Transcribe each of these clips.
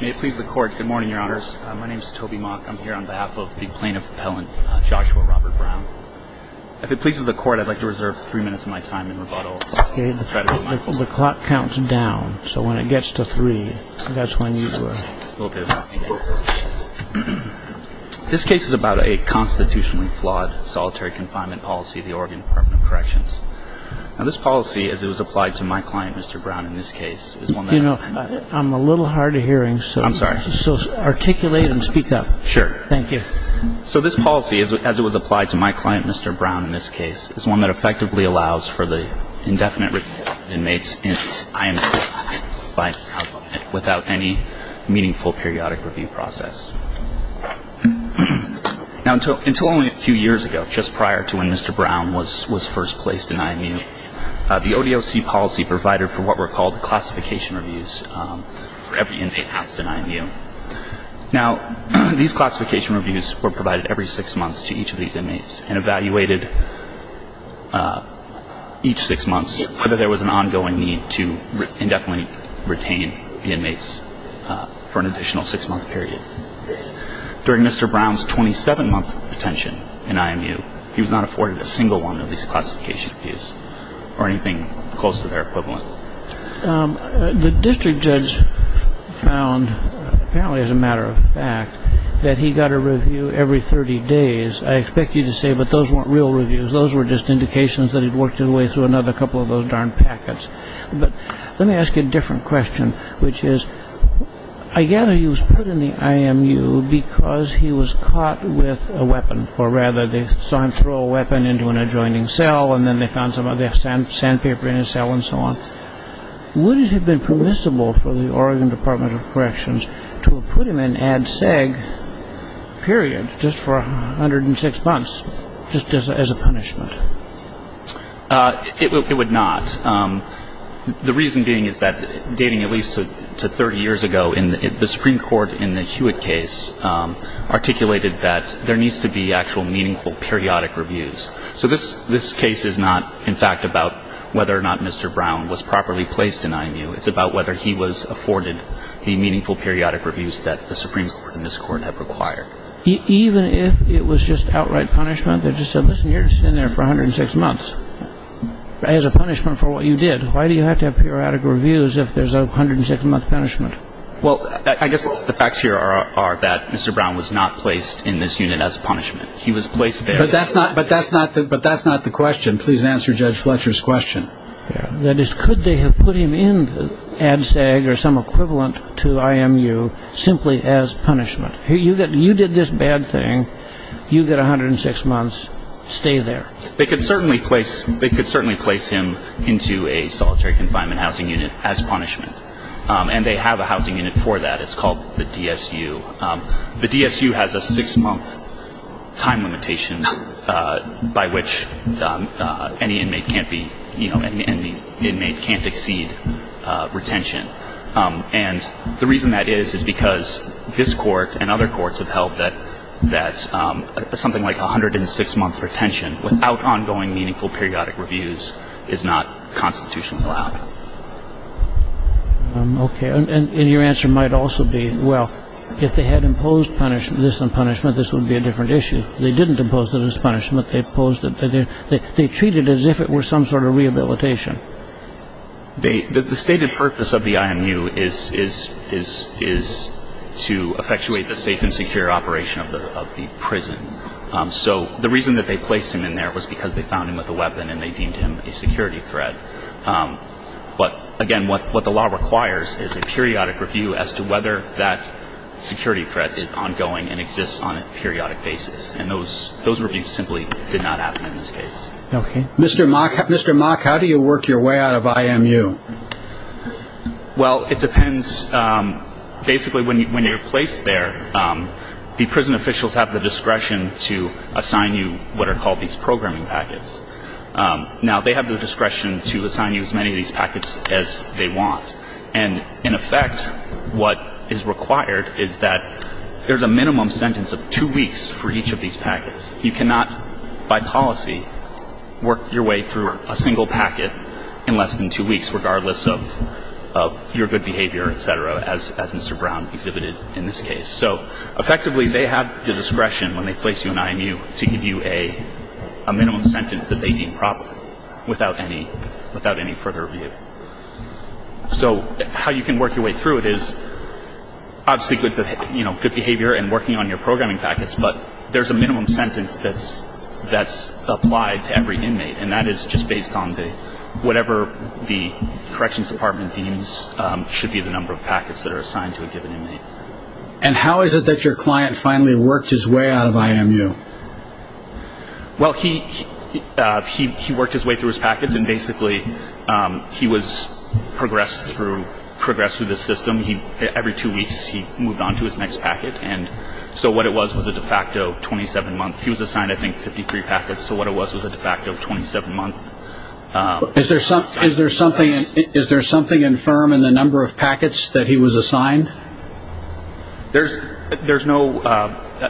May it please the court. Good morning, your honors. My name is Toby Mock. I'm here on behalf of the plaintiff appellant, Joshua Robert Brown. If it pleases the court, I'd like to reserve three minutes of my time in rebuttal. Okay. The clock counts down, so when it gets to three, that's when you will. Will do. This case is about a constitutionally flawed solitary confinement policy of the Oregon Department of Corrections. Now, this policy, as it was applied to my client, Mr. Brown, in this case, is one that- Well, you know, I'm a little hard of hearing. I'm sorry. So articulate and speak up. Sure. Thank you. So this policy, as it was applied to my client, Mr. Brown, in this case, is one that effectively allows for the indefinite review of inmates in IME without any meaningful periodic review process. Now, until only a few years ago, just prior to when Mr. Brown was first placed in IME, the ODOC policy provided for what were called classification reviews for every inmate housed in IMU. Now, these classification reviews were provided every six months to each of these inmates and evaluated each six months whether there was an ongoing need to indefinitely retain the inmates for an additional six-month period. During Mr. Brown's 27-month retention in IMU, he was not afforded a single one of these classification reviews or anything close to their equivalent. The district judge found, apparently as a matter of fact, that he got a review every 30 days. I expect you to say, but those weren't real reviews. Those were just indications that he'd worked his way through another couple of those darn packets. But let me ask you a different question, which is, I gather he was put in the IMU because he was caught with a weapon, or rather they saw him throw a weapon into an adjoining cell and then they found some of the sandpaper in his cell and so on. Would it have been permissible for the Oregon Department of Corrections to have put him in ADSEG, period, just for 106 months, just as a punishment? It would not. The reason being is that, dating at least to 30 years ago, the Supreme Court in the Hewitt case articulated that there needs to be actual meaningful periodic reviews. So this case is not, in fact, about whether or not Mr. Brown was properly placed in IMU. It's about whether he was afforded the meaningful periodic reviews that the Supreme Court and this Court have required. Even if it was just outright punishment? They just said, listen, you're going to sit in there for 106 months as a punishment for what you did. Why do you have to have periodic reviews if there's a 106-month punishment? Well, I guess the facts here are that Mr. Brown was not placed in this unit as a punishment. He was placed there as a punishment. But that's not the question. Please answer Judge Fletcher's question. That is, could they have put him in ADSEG or some equivalent to IMU simply as punishment? You did this bad thing. You get 106 months. Stay there. They could certainly place him into a solitary confinement housing unit as punishment. And they have a housing unit for that. It's called the DSU. The DSU has a six-month time limitation by which any inmate can't exceed retention. And the reason that is is because this Court and other courts have held that something like a 106-month retention without ongoing meaningful periodic reviews is not constitutionally allowed. Okay. And your answer might also be, well, if they had imposed punishment, this is punishment, this would be a different issue. They didn't impose this punishment. They treated it as if it were some sort of rehabilitation. The stated purpose of the IMU is to effectuate the safe and secure operation of the prison. So the reason that they placed him in there was because they found him with a weapon and they deemed him a security threat. But, again, what the law requires is a periodic review as to whether that security threat is ongoing and exists on a periodic basis. And those reviews simply did not happen in this case. Okay. Mr. Mock, how do you work your way out of IMU? Well, it depends. Basically, when you're placed there, the prison officials have the discretion to assign you what are called these programming packets. Now, they have the discretion to assign you as many of these packets as they want. And, in effect, what is required is that there's a minimum sentence of two weeks for each of these packets. You cannot, by policy, work your way through a single packet in less than two weeks, regardless of your good behavior, et cetera, as Mr. Brown exhibited in this case. So, effectively, they have the discretion when they place you in IMU to give you a minimum sentence that they deem proper without any further review. So how you can work your way through it is, obviously, good behavior and working on your programming packets, but there's a minimum sentence that's applied to every inmate, and that is just based on whatever the Corrections Department deems should be the number of packets that are assigned to a given inmate. And how is it that your client finally worked his way out of IMU? Well, he worked his way through his packets, and, basically, he was progressed through this system. Every two weeks, he moved on to his next packet. And so what it was was a de facto 27-month. He was assigned, I think, 53 packets, so what it was was a de facto 27-month. Is there something infirm in the number of packets that he was assigned? There's no,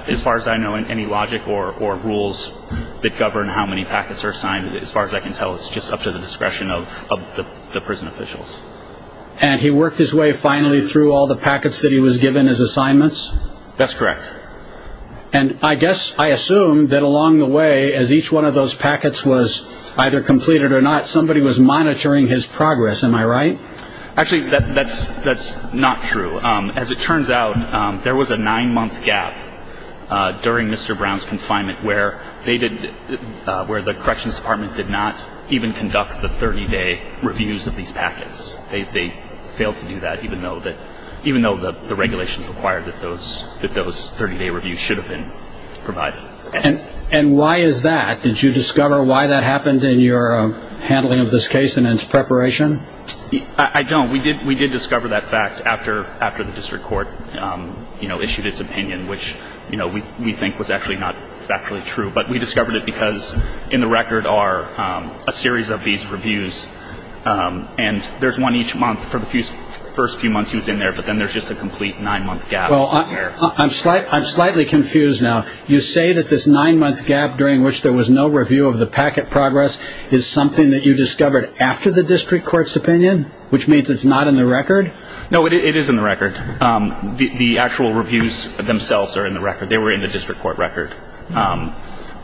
as far as I know, any logic or rules that govern how many packets are assigned. As far as I can tell, it's just up to the discretion of the prison officials. And he worked his way, finally, through all the packets that he was given as assignments? That's correct. And I guess I assume that along the way, as each one of those packets was either completed or not, somebody was monitoring his progress. Am I right? Actually, that's not true. As it turns out, there was a nine-month gap during Mr. Brown's confinement where the corrections department did not even conduct the 30-day reviews of these packets. They failed to do that, even though the regulations required that those 30-day reviews should have been provided. And why is that? Did you discover why that happened in your handling of this case and its preparation? I don't. We did discover that fact after the district court issued its opinion, which we think was actually not factually true. But we discovered it because, in the record, are a series of these reviews. And there's one each month for the first few months he was in there, but then there's just a complete nine-month gap. I'm slightly confused now. You say that this nine-month gap during which there was no review of the packet progress is something that you discovered after the district court's opinion, which means it's not in the record? No, it is in the record. The actual reviews themselves are in the record. They were in the district court record.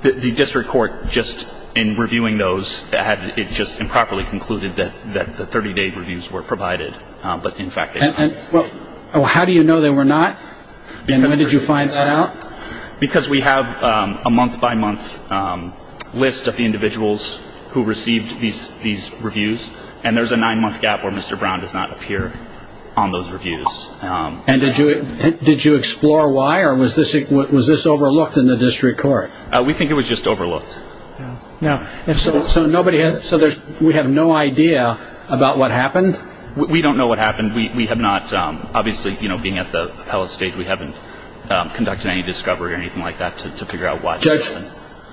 The district court, just in reviewing those, it just improperly concluded that the 30-day reviews were provided, but in fact they were not. How do you know they were not? And when did you find that out? Because we have a month-by-month list of the individuals who received these reviews, and there's a nine-month gap where Mr. Brown does not appear on those reviews. And did you explore why, or was this overlooked in the district court? We think it was just overlooked. So we have no idea about what happened? We don't know what happened. Obviously, being at the appellate stage, we haven't conducted any discovery or anything like that to figure out why.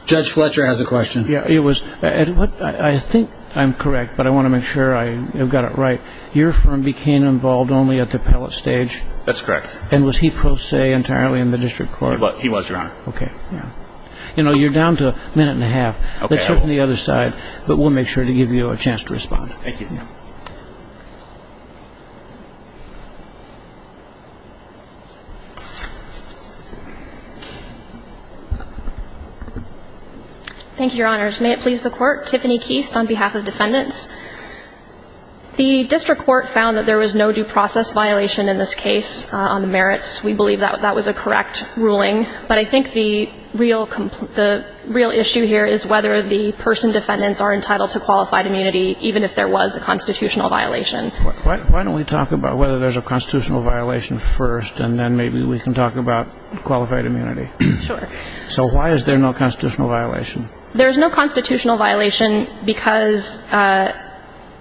Judge Fletcher has a question. I think I'm correct, but I want to make sure I've got it right. Your firm became involved only at the appellate stage? That's correct. And was he pro se entirely in the district court? He was, Your Honor. Okay. You're down to a minute and a half. Let's look on the other side, but we'll make sure to give you a chance to respond. Thank you. Thank you, Your Honors. May it please the Court, Tiffany Keast on behalf of defendants. The district court found that there was no due process violation in this case on the merits. We believe that that was a correct ruling. But I think the real issue here is whether the person defendants are entitled to qualified immunity, even if there was a constitutional violation. Why don't we talk about whether there's a constitutional violation first, and then maybe we can talk about qualified immunity. Sure. So why is there no constitutional violation? There's no constitutional violation because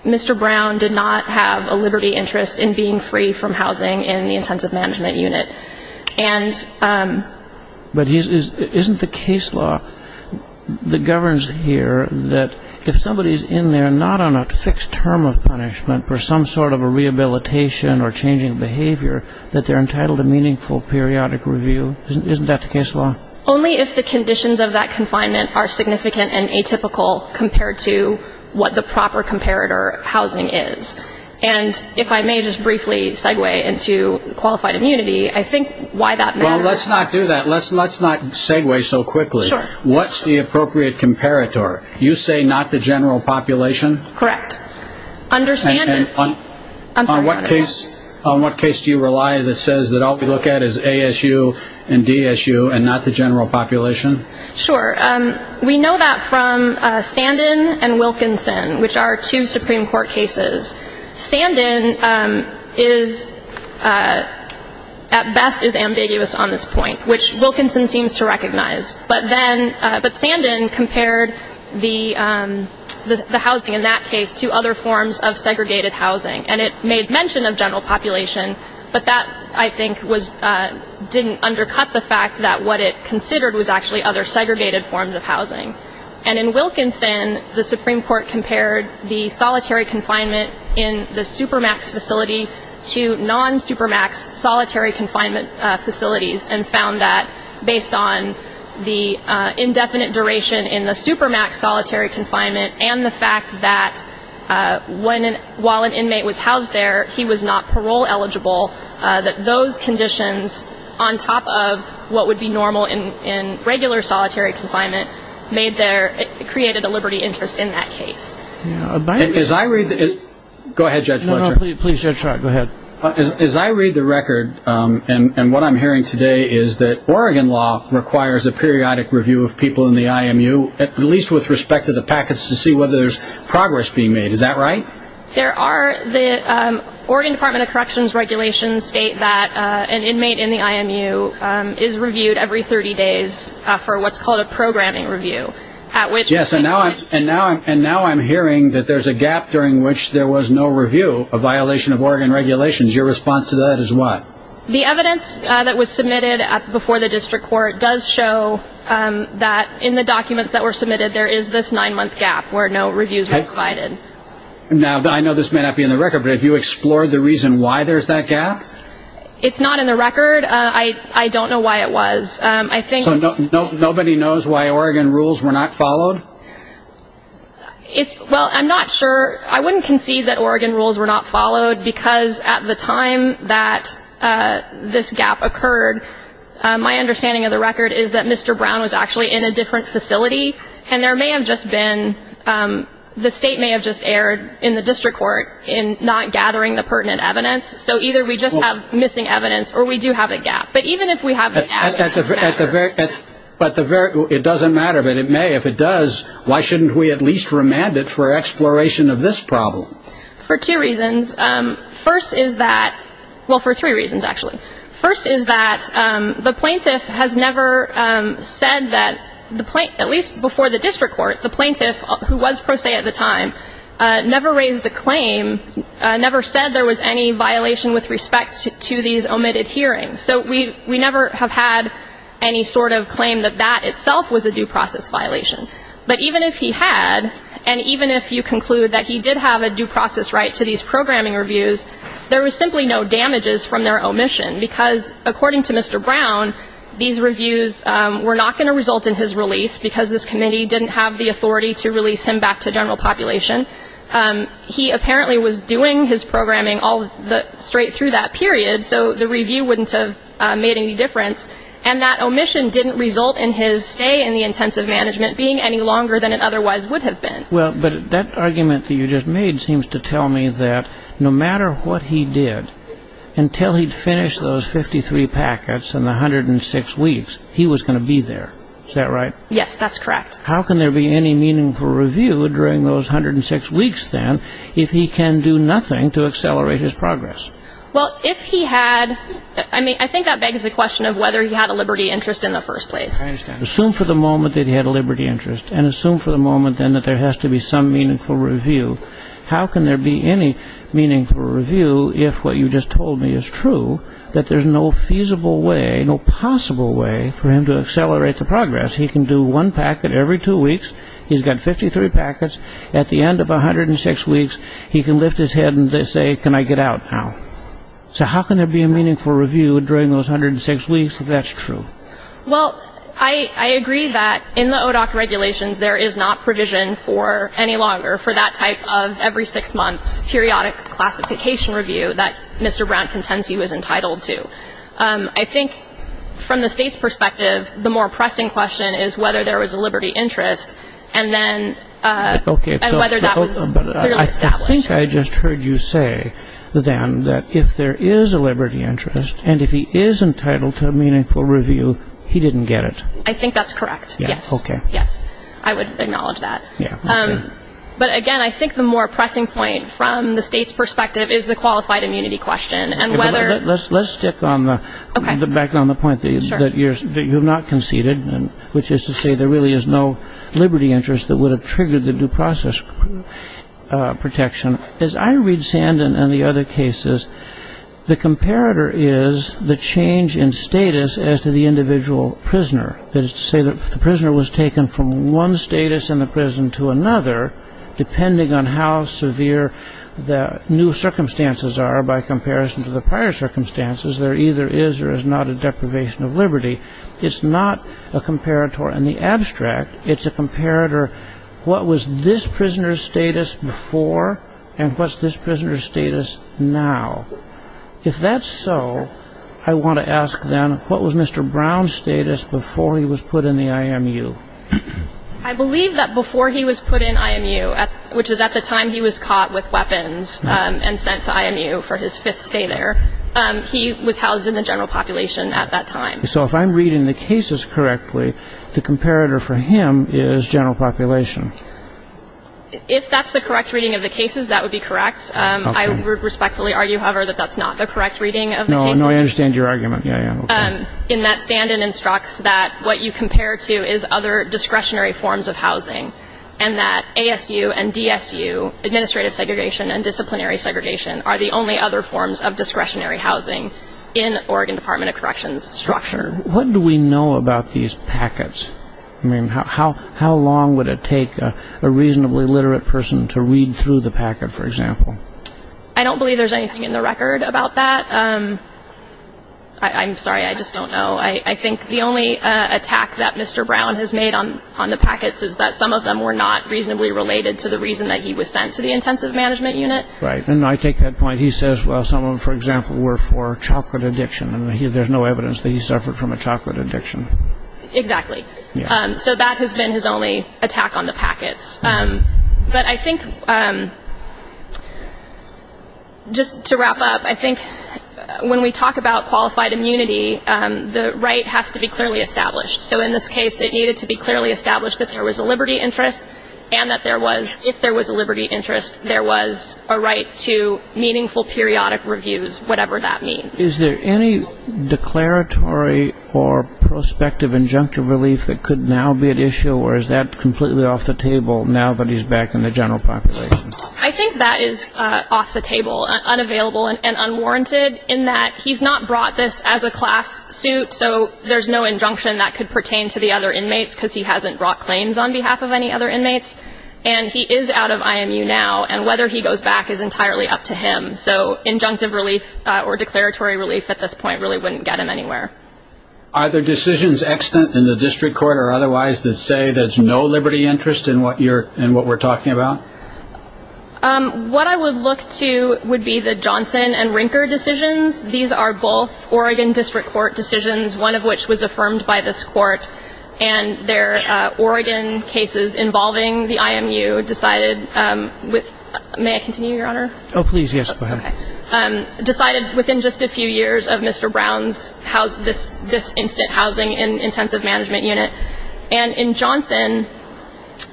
Mr. Brown did not have a liberty interest in being free from housing in the intensive management unit. But isn't the case law that governs here that if somebody's in there not on a fixed term of punishment for some sort of a rehabilitation or changing behavior, that they're entitled to meaningful periodic review? Isn't that the case law? Only if the conditions of that confinement are significant and atypical compared to what the proper comparator housing is. And if I may just briefly segue into qualified immunity, I think why that matters. Well, let's not do that. Let's not segue so quickly. What's the appropriate comparator? You say not the general population? Correct. And on what case do you rely that says that all we look at is ASU and DSU and not the general population? Sure. We know that from Sandin and Wilkinson, which are two Supreme Court cases. Sandin is, at best, is ambiguous on this point, which Wilkinson seems to recognize. But Sandin compared the housing in that case to other forms of segregated housing. And it made mention of general population, but that, I think, didn't undercut the fact that what it considered was actually other segregated forms of housing. And in Wilkinson, the Supreme Court compared the solitary confinement in the Supermax facility to non-Supermax solitary confinement facilities and found that, based on the indefinite duration in the Supermax solitary confinement and the fact that while an inmate was housed there, he was not parole eligible, that those conditions, on top of what would be normal in regular solitary confinement, created a liberty interest in that case. As I read the record, and what I'm hearing today is that Oregon law requires a periodic review of people in the IMU, at least with respect to the packets, to see whether there's progress being made. Is that right? There are. The Oregon Department of Corrections regulations state that an inmate in the IMU is reviewed every 30 days for what's called a programming review. Yes, and now I'm hearing that there's a gap during which there was no review, a violation of Oregon regulations. Your response to that is what? The evidence that was submitted before the district court does show that in the documents that were submitted, there is this nine-month gap where no reviews were provided. Now, I know this may not be in the record, but have you explored the reason why there's that gap? It's not in the record. I don't know why it was. So nobody knows why Oregon rules were not followed? Well, I'm not sure. I wouldn't concede that Oregon rules were not followed because at the time that this gap occurred, my understanding of the record is that Mr. Brown was actually in a different facility, and the state may have just erred in the district court in not gathering the pertinent evidence. So either we just have missing evidence or we do have a gap. But even if we have a gap, it doesn't matter. It doesn't matter, but it may. If it does, why shouldn't we at least remand it for exploration of this problem? For two reasons. First is that the plaintiff has never said that, at least before the district court, the plaintiff, who was pro se at the time, never raised a claim, never said there was any violation with respect to these omitted hearings. So we never have had any sort of claim that that itself was a due process violation. But even if he had, and even if you conclude that he did have a due process right to these programming reviews, there was simply no damages from their omission, because according to Mr. Brown, these reviews were not going to result in his release because this committee didn't have the authority to release him back to general population. He apparently was doing his programming all straight through that period, so the review wouldn't have made any difference. And that omission didn't result in his stay in the intensive management being any longer than it otherwise would have been. But that argument that you just made seems to tell me that no matter what he did, until he finished those 53 packets in the 106 weeks, he was going to be there. Is that right? Yes, that's correct. How can there be any meaningful review during those 106 weeks, then, if he can do nothing to accelerate his progress? Well, if he had, I think that begs the question of whether he had a liberty interest in the first place. I understand. Assume for the moment that he had a liberty interest, and assume for the moment, then, that there has to be some meaningful review. How can there be any meaningful review if what you just told me is true, that there's no feasible way, no possible way, for him to accelerate the progress? He can do one packet every two weeks. He's got 53 packets. At the end of 106 weeks, he can lift his head and say, can I get out now? So how can there be a meaningful review during those 106 weeks if that's true? Well, I agree that in the ODOC regulations, there is not provision for any longer for that type of every six months, periodic classification review that Mr. Brown contends he was entitled to. I think from the state's perspective, the more pressing question is whether there was a liberty interest, and whether that was clearly established. I think I just heard you say, then, that if there is a liberty interest, and if he is entitled to a meaningful review, he didn't get it. I think that's correct. Yes. Okay. Yes. I would acknowledge that. But, again, I think the more pressing point from the state's perspective is the qualified immunity question. Let's stick back on the point that you have not conceded, which is to say there really is no liberty interest that would have triggered the due process protection. As I read Sandin and the other cases, the comparator is the change in status as to the individual prisoner. That is to say that if the prisoner was taken from one status in the prison to another, depending on how severe the new circumstances are by comparison to the prior circumstances, there either is or is not a deprivation of liberty. It's not a comparator. In the abstract, it's a comparator. What was this prisoner's status before, and what's this prisoner's status now? If that's so, I want to ask, then, what was Mr. Brown's status before he was put in the IMU? I believe that before he was put in IMU, which is at the time he was caught with weapons and sent to IMU for his fifth stay there, he was housed in the general population at that time. So if I'm reading the cases correctly, the comparator for him is general population. If that's the correct reading of the cases, that would be correct. I would respectfully argue, however, that that's not the correct reading of the cases. No, I understand your argument. In that Sandin instructs that what you compare to is other discretionary forms of housing and that ASU and DSU, administrative segregation and disciplinary segregation, are the only other forms of discretionary housing in Oregon Department of Corrections structure. What do we know about these packets? I mean, how long would it take a reasonably literate person to read through the packet, for example? I don't believe there's anything in the record about that. I'm sorry, I just don't know. I think the only attack that Mr. Brown has made on the packets is that some of them were not reasonably related to the reason that he was sent to the intensive management unit. Right. And I take that point. He says, well, some of them, for example, were for chocolate addiction, and there's no evidence that he suffered from a chocolate addiction. Exactly. So that has been his only attack on the packets. But I think just to wrap up, I think when we talk about qualified immunity, the right has to be clearly established. So in this case, it needed to be clearly established that there was a liberty interest and that there was, if there was a liberty interest, there was a right to meaningful periodic reviews, whatever that means. Is there any declaratory or prospective injunctive relief that could now be at issue, or is that completely off the table now that he's back in the general population? I think that is off the table, unavailable and unwarranted in that he's not brought this as a class suit, so there's no injunction that could pertain to the other inmates because he hasn't brought claims on behalf of any other inmates. And he is out of IMU now, and whether he goes back is entirely up to him. So injunctive relief or declaratory relief at this point really wouldn't get him anywhere. Are there decisions extant in the district court or otherwise that say there's no liberty interest in what we're talking about? What I would look to would be the Johnson and Rinker decisions. These are both Oregon District Court decisions, one of which was affirmed by this court, and they're Oregon cases involving the IMU decided with ‑‑ may I continue, Your Honor? Oh, please, yes, go ahead. Okay. Decided within just a few years of Mr. Brown's, this instant housing intensive management unit. And in Johnson,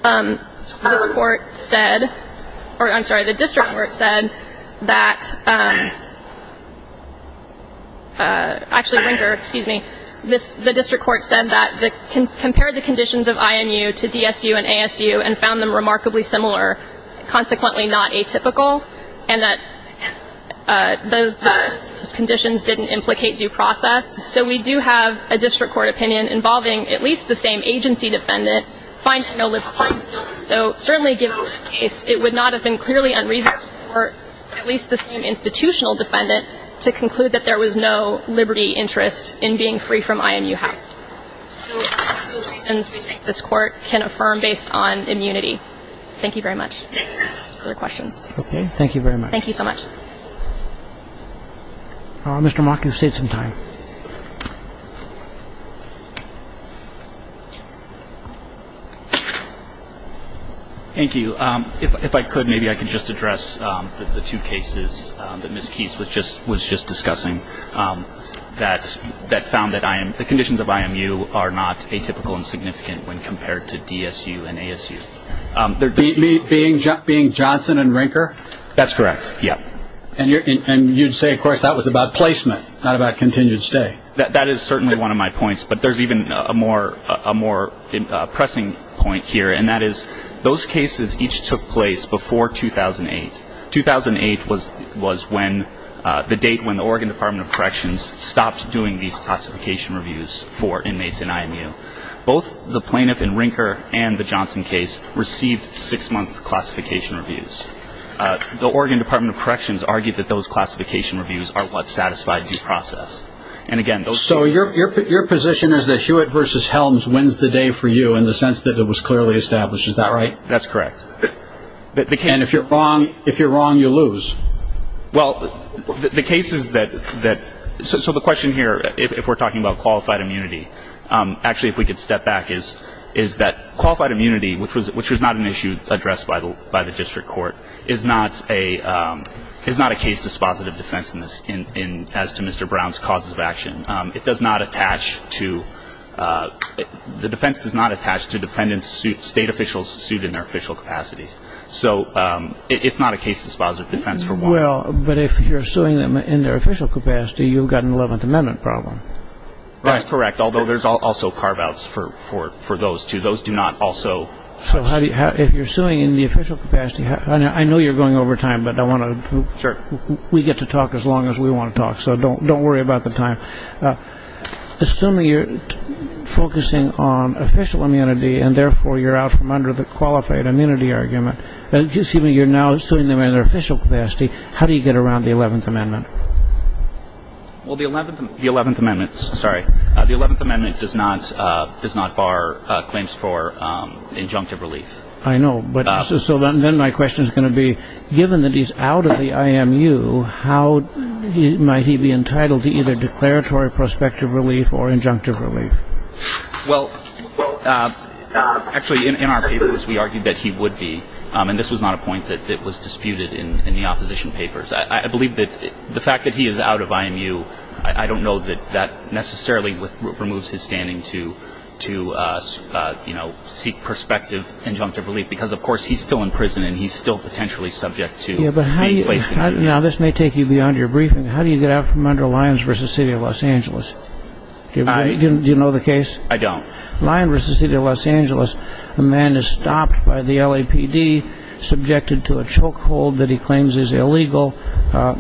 this court said, or I'm sorry, the district court said that, actually Rinker, excuse me, the district court said that compared the conditions of IMU to DSU and ASU and found them remarkably similar, consequently not atypical, and that those conditions didn't implicate due process. So we do have a district court opinion involving at least the same agency defendant finding no liberty. So certainly given the case, it would not have been clearly unreasonable for at least the same institutional defendant to conclude that there was no liberty interest in being free from IMU housing. So those are the reasons we think this court can affirm based on immunity. Thank you very much. Any other questions? Okay. Thank you very much. Thank you so much. Mr. Mock, you've saved some time. Thank you. So if I could, maybe I could just address the two cases that Ms. Keys was just discussing that found that the conditions of IMU are not atypical and significant when compared to DSU and ASU. Being Johnson and Rinker? That's correct, yeah. And you'd say, of course, that was about placement, not about continued stay. That is certainly one of my points, but there's even a more pressing point here, and that is those cases each took place before 2008. 2008 was the date when the Oregon Department of Corrections stopped doing these classification reviews for inmates in IMU. Both the plaintiff in Rinker and the Johnson case received six-month classification reviews. The Oregon Department of Corrections argued that those classification reviews are what satisfied due process. So your position is that Hewitt v. Helms wins the day for you in the sense that it was clearly established. Is that right? That's correct. And if you're wrong, you lose. Well, the case is that so the question here, if we're talking about qualified immunity, actually if we could step back is that qualified immunity, which was not an issue addressed by the district court, is not a case dispositive defense as to Mr. Brown's causes of action. It does not attach to the defense does not attach to defendants state officials sued in their official capacities. So it's not a case dispositive defense for one. Well, but if you're suing them in their official capacity, you've got an Eleventh Amendment problem. That's correct, although there's also carve-outs for those, too. Those do not also. So if you're suing in the official capacity, I know you're going over time, but I want to. Sure. We get to talk as long as we want to talk, so don't worry about the time. Assuming you're focusing on official immunity and therefore you're out from under the qualified immunity argument, assuming you're now suing them in their official capacity, how do you get around the Eleventh Amendment? Well, the Eleventh Amendment does not bar claims for injunctive relief. I know. So then my question is going to be, given that he's out of the IMU, how might he be entitled to either declaratory prospective relief or injunctive relief? Well, actually, in our papers, we argued that he would be, and this was not a point that was disputed in the opposition papers. I believe that the fact that he is out of IMU, I don't know that that necessarily removes his standing to seek prospective injunctive relief, because, of course, he's still in prison and he's still potentially subject to being placed in prison. Now, this may take you beyond your briefing. How do you get out from under Lyons v. City of Los Angeles? Do you know the case? I don't. Lyons v. City of Los Angeles, the man is stopped by the LAPD, subjected to a chokehold that he claims is illegal.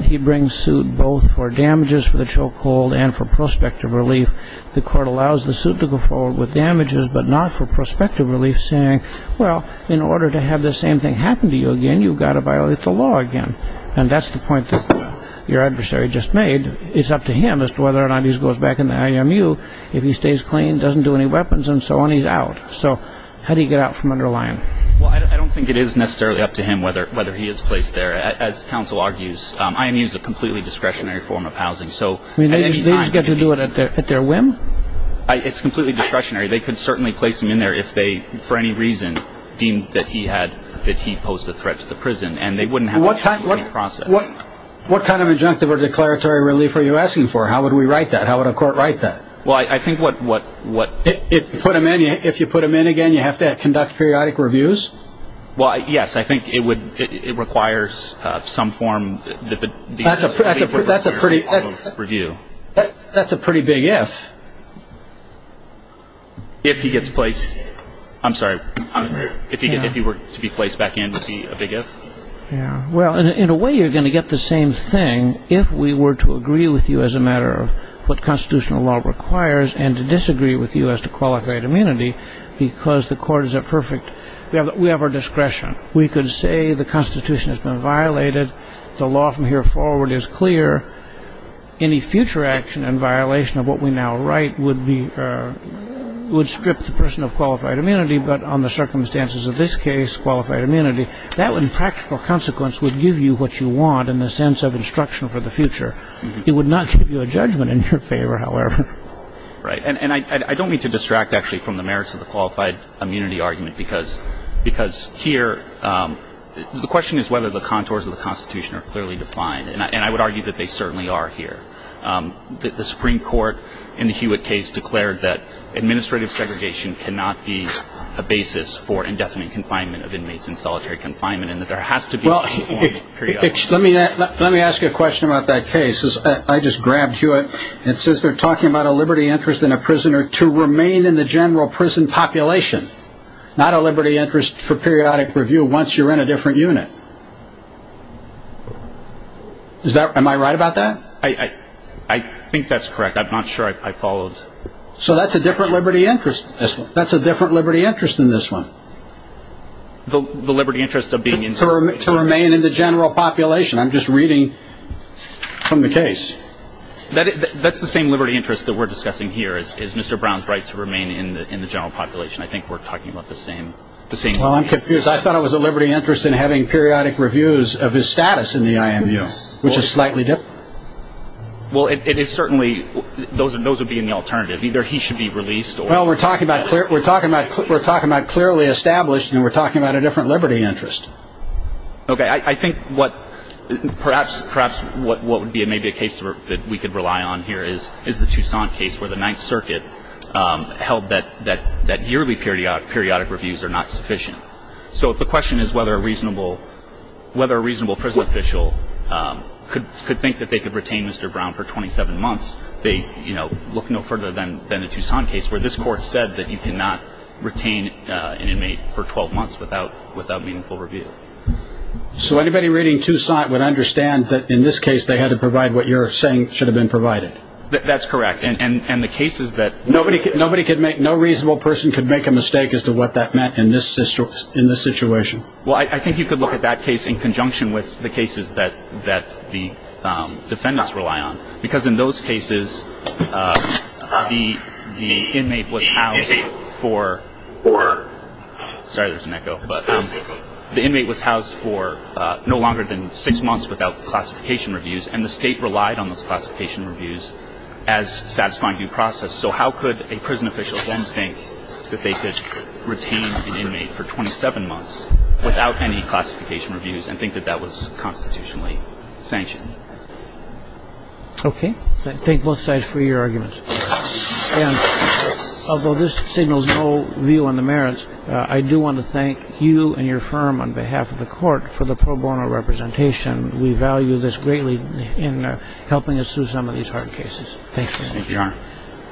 He brings suit both for damages for the chokehold and for prospective relief. The court allows the suit to go forward with damages but not for prospective relief, saying, well, in order to have the same thing happen to you again, you've got to violate the law again. And that's the point that your adversary just made. It's up to him as to whether or not he goes back in the IMU. If he stays clean, doesn't do any weapons, and so on, he's out. So how do you get out from under Lyons? Well, I don't think it is necessarily up to him whether he is placed there. As counsel argues, IMU is a completely discretionary form of housing. They just get to do it at their whim? It's completely discretionary. They could certainly place him in there if they, for any reason, deemed that he posed a threat to the prison, and they wouldn't have to go through any process. What kind of injunctive or declaratory relief are you asking for? How would we write that? How would a court write that? Well, I think what... If you put him in again, you have to conduct periodic reviews? Well, yes. I think it requires some form... That's a pretty... That's a pretty big if. If he gets placed... I'm sorry. If he were to be placed back in, would it be a big if? Well, in a way, you're going to get the same thing if we were to agree with you as a matter of what constitutional law requires and to disagree with you as to qualified immunity because the court is a perfect... We have our discretion. We could say the Constitution has been violated. The law from here forward is clear. Any future action in violation of what we now write would be... would strip the person of qualified immunity, but on the circumstances of this case, qualified immunity. That, in practical consequence, would give you what you want in the sense of instruction for the future. It would not give you a judgment in your favor, however. Right, and I don't mean to distract, actually, from the merits of the qualified immunity argument because here... The question is whether the contours of the Constitution are clearly defined, and I would argue that they certainly are here. The Supreme Court in the Hewitt case declared that administrative segregation cannot be a basis for indefinite confinement of inmates in solitary confinement and that there has to be... Let me ask you a question about that case. I just grabbed Hewitt. It says they're talking about a liberty interest in a prisoner to remain in the general prison population, not a liberty interest for periodic review once you're in a different unit. Am I right about that? I think that's correct. I'm not sure I followed. So that's a different liberty interest than this one. The liberty interest of being in solitary confinement. To remain in the general population. I'm just reading from the case. That's the same liberty interest that we're discussing here, is Mr. Brown's right to remain in the general population. I think we're talking about the same thing. Well, I'm confused. I thought it was a liberty interest in having periodic reviews of his status in the IMU, which is slightly different. Well, it is certainly... Those would be in the alternative. Either he should be released or... Well, we're talking about clearly established, and we're talking about a different liberty interest. Okay. I think perhaps what would be maybe a case that we could rely on here is the Tucson case, where the Ninth Circuit held that yearly periodic reviews are not sufficient. So if the question is whether a reasonable prison official could think that they could retain Mr. Brown for 27 months, they look no further than the Tucson case, where this court said that you cannot retain an inmate for 12 months without meaningful review. So anybody reading Tucson would understand that in this case they had to provide what you're saying should have been provided? That's correct. And the case is that... Nobody could make... No reasonable person could make a mistake as to what that meant in this situation? Well, I think you could look at that case in conjunction with the cases that the defendants rely on. Because in those cases, the inmate was housed for... Sorry, there's an echo. The inmate was housed for no longer than six months without classification reviews, and the state relied on those classification reviews as satisfying due process. So how could a prison official then think that they could retain an inmate for 27 months without any classification reviews and think that that was constitutionally sanctioned? Okay. Thank both sides for your arguments. And although this signals no view on the merits, I do want to thank you and your firm on behalf of the court for the pro bono representation. We value this greatly in helping us through some of these hard cases. Thank you. Thank you, Your Honor.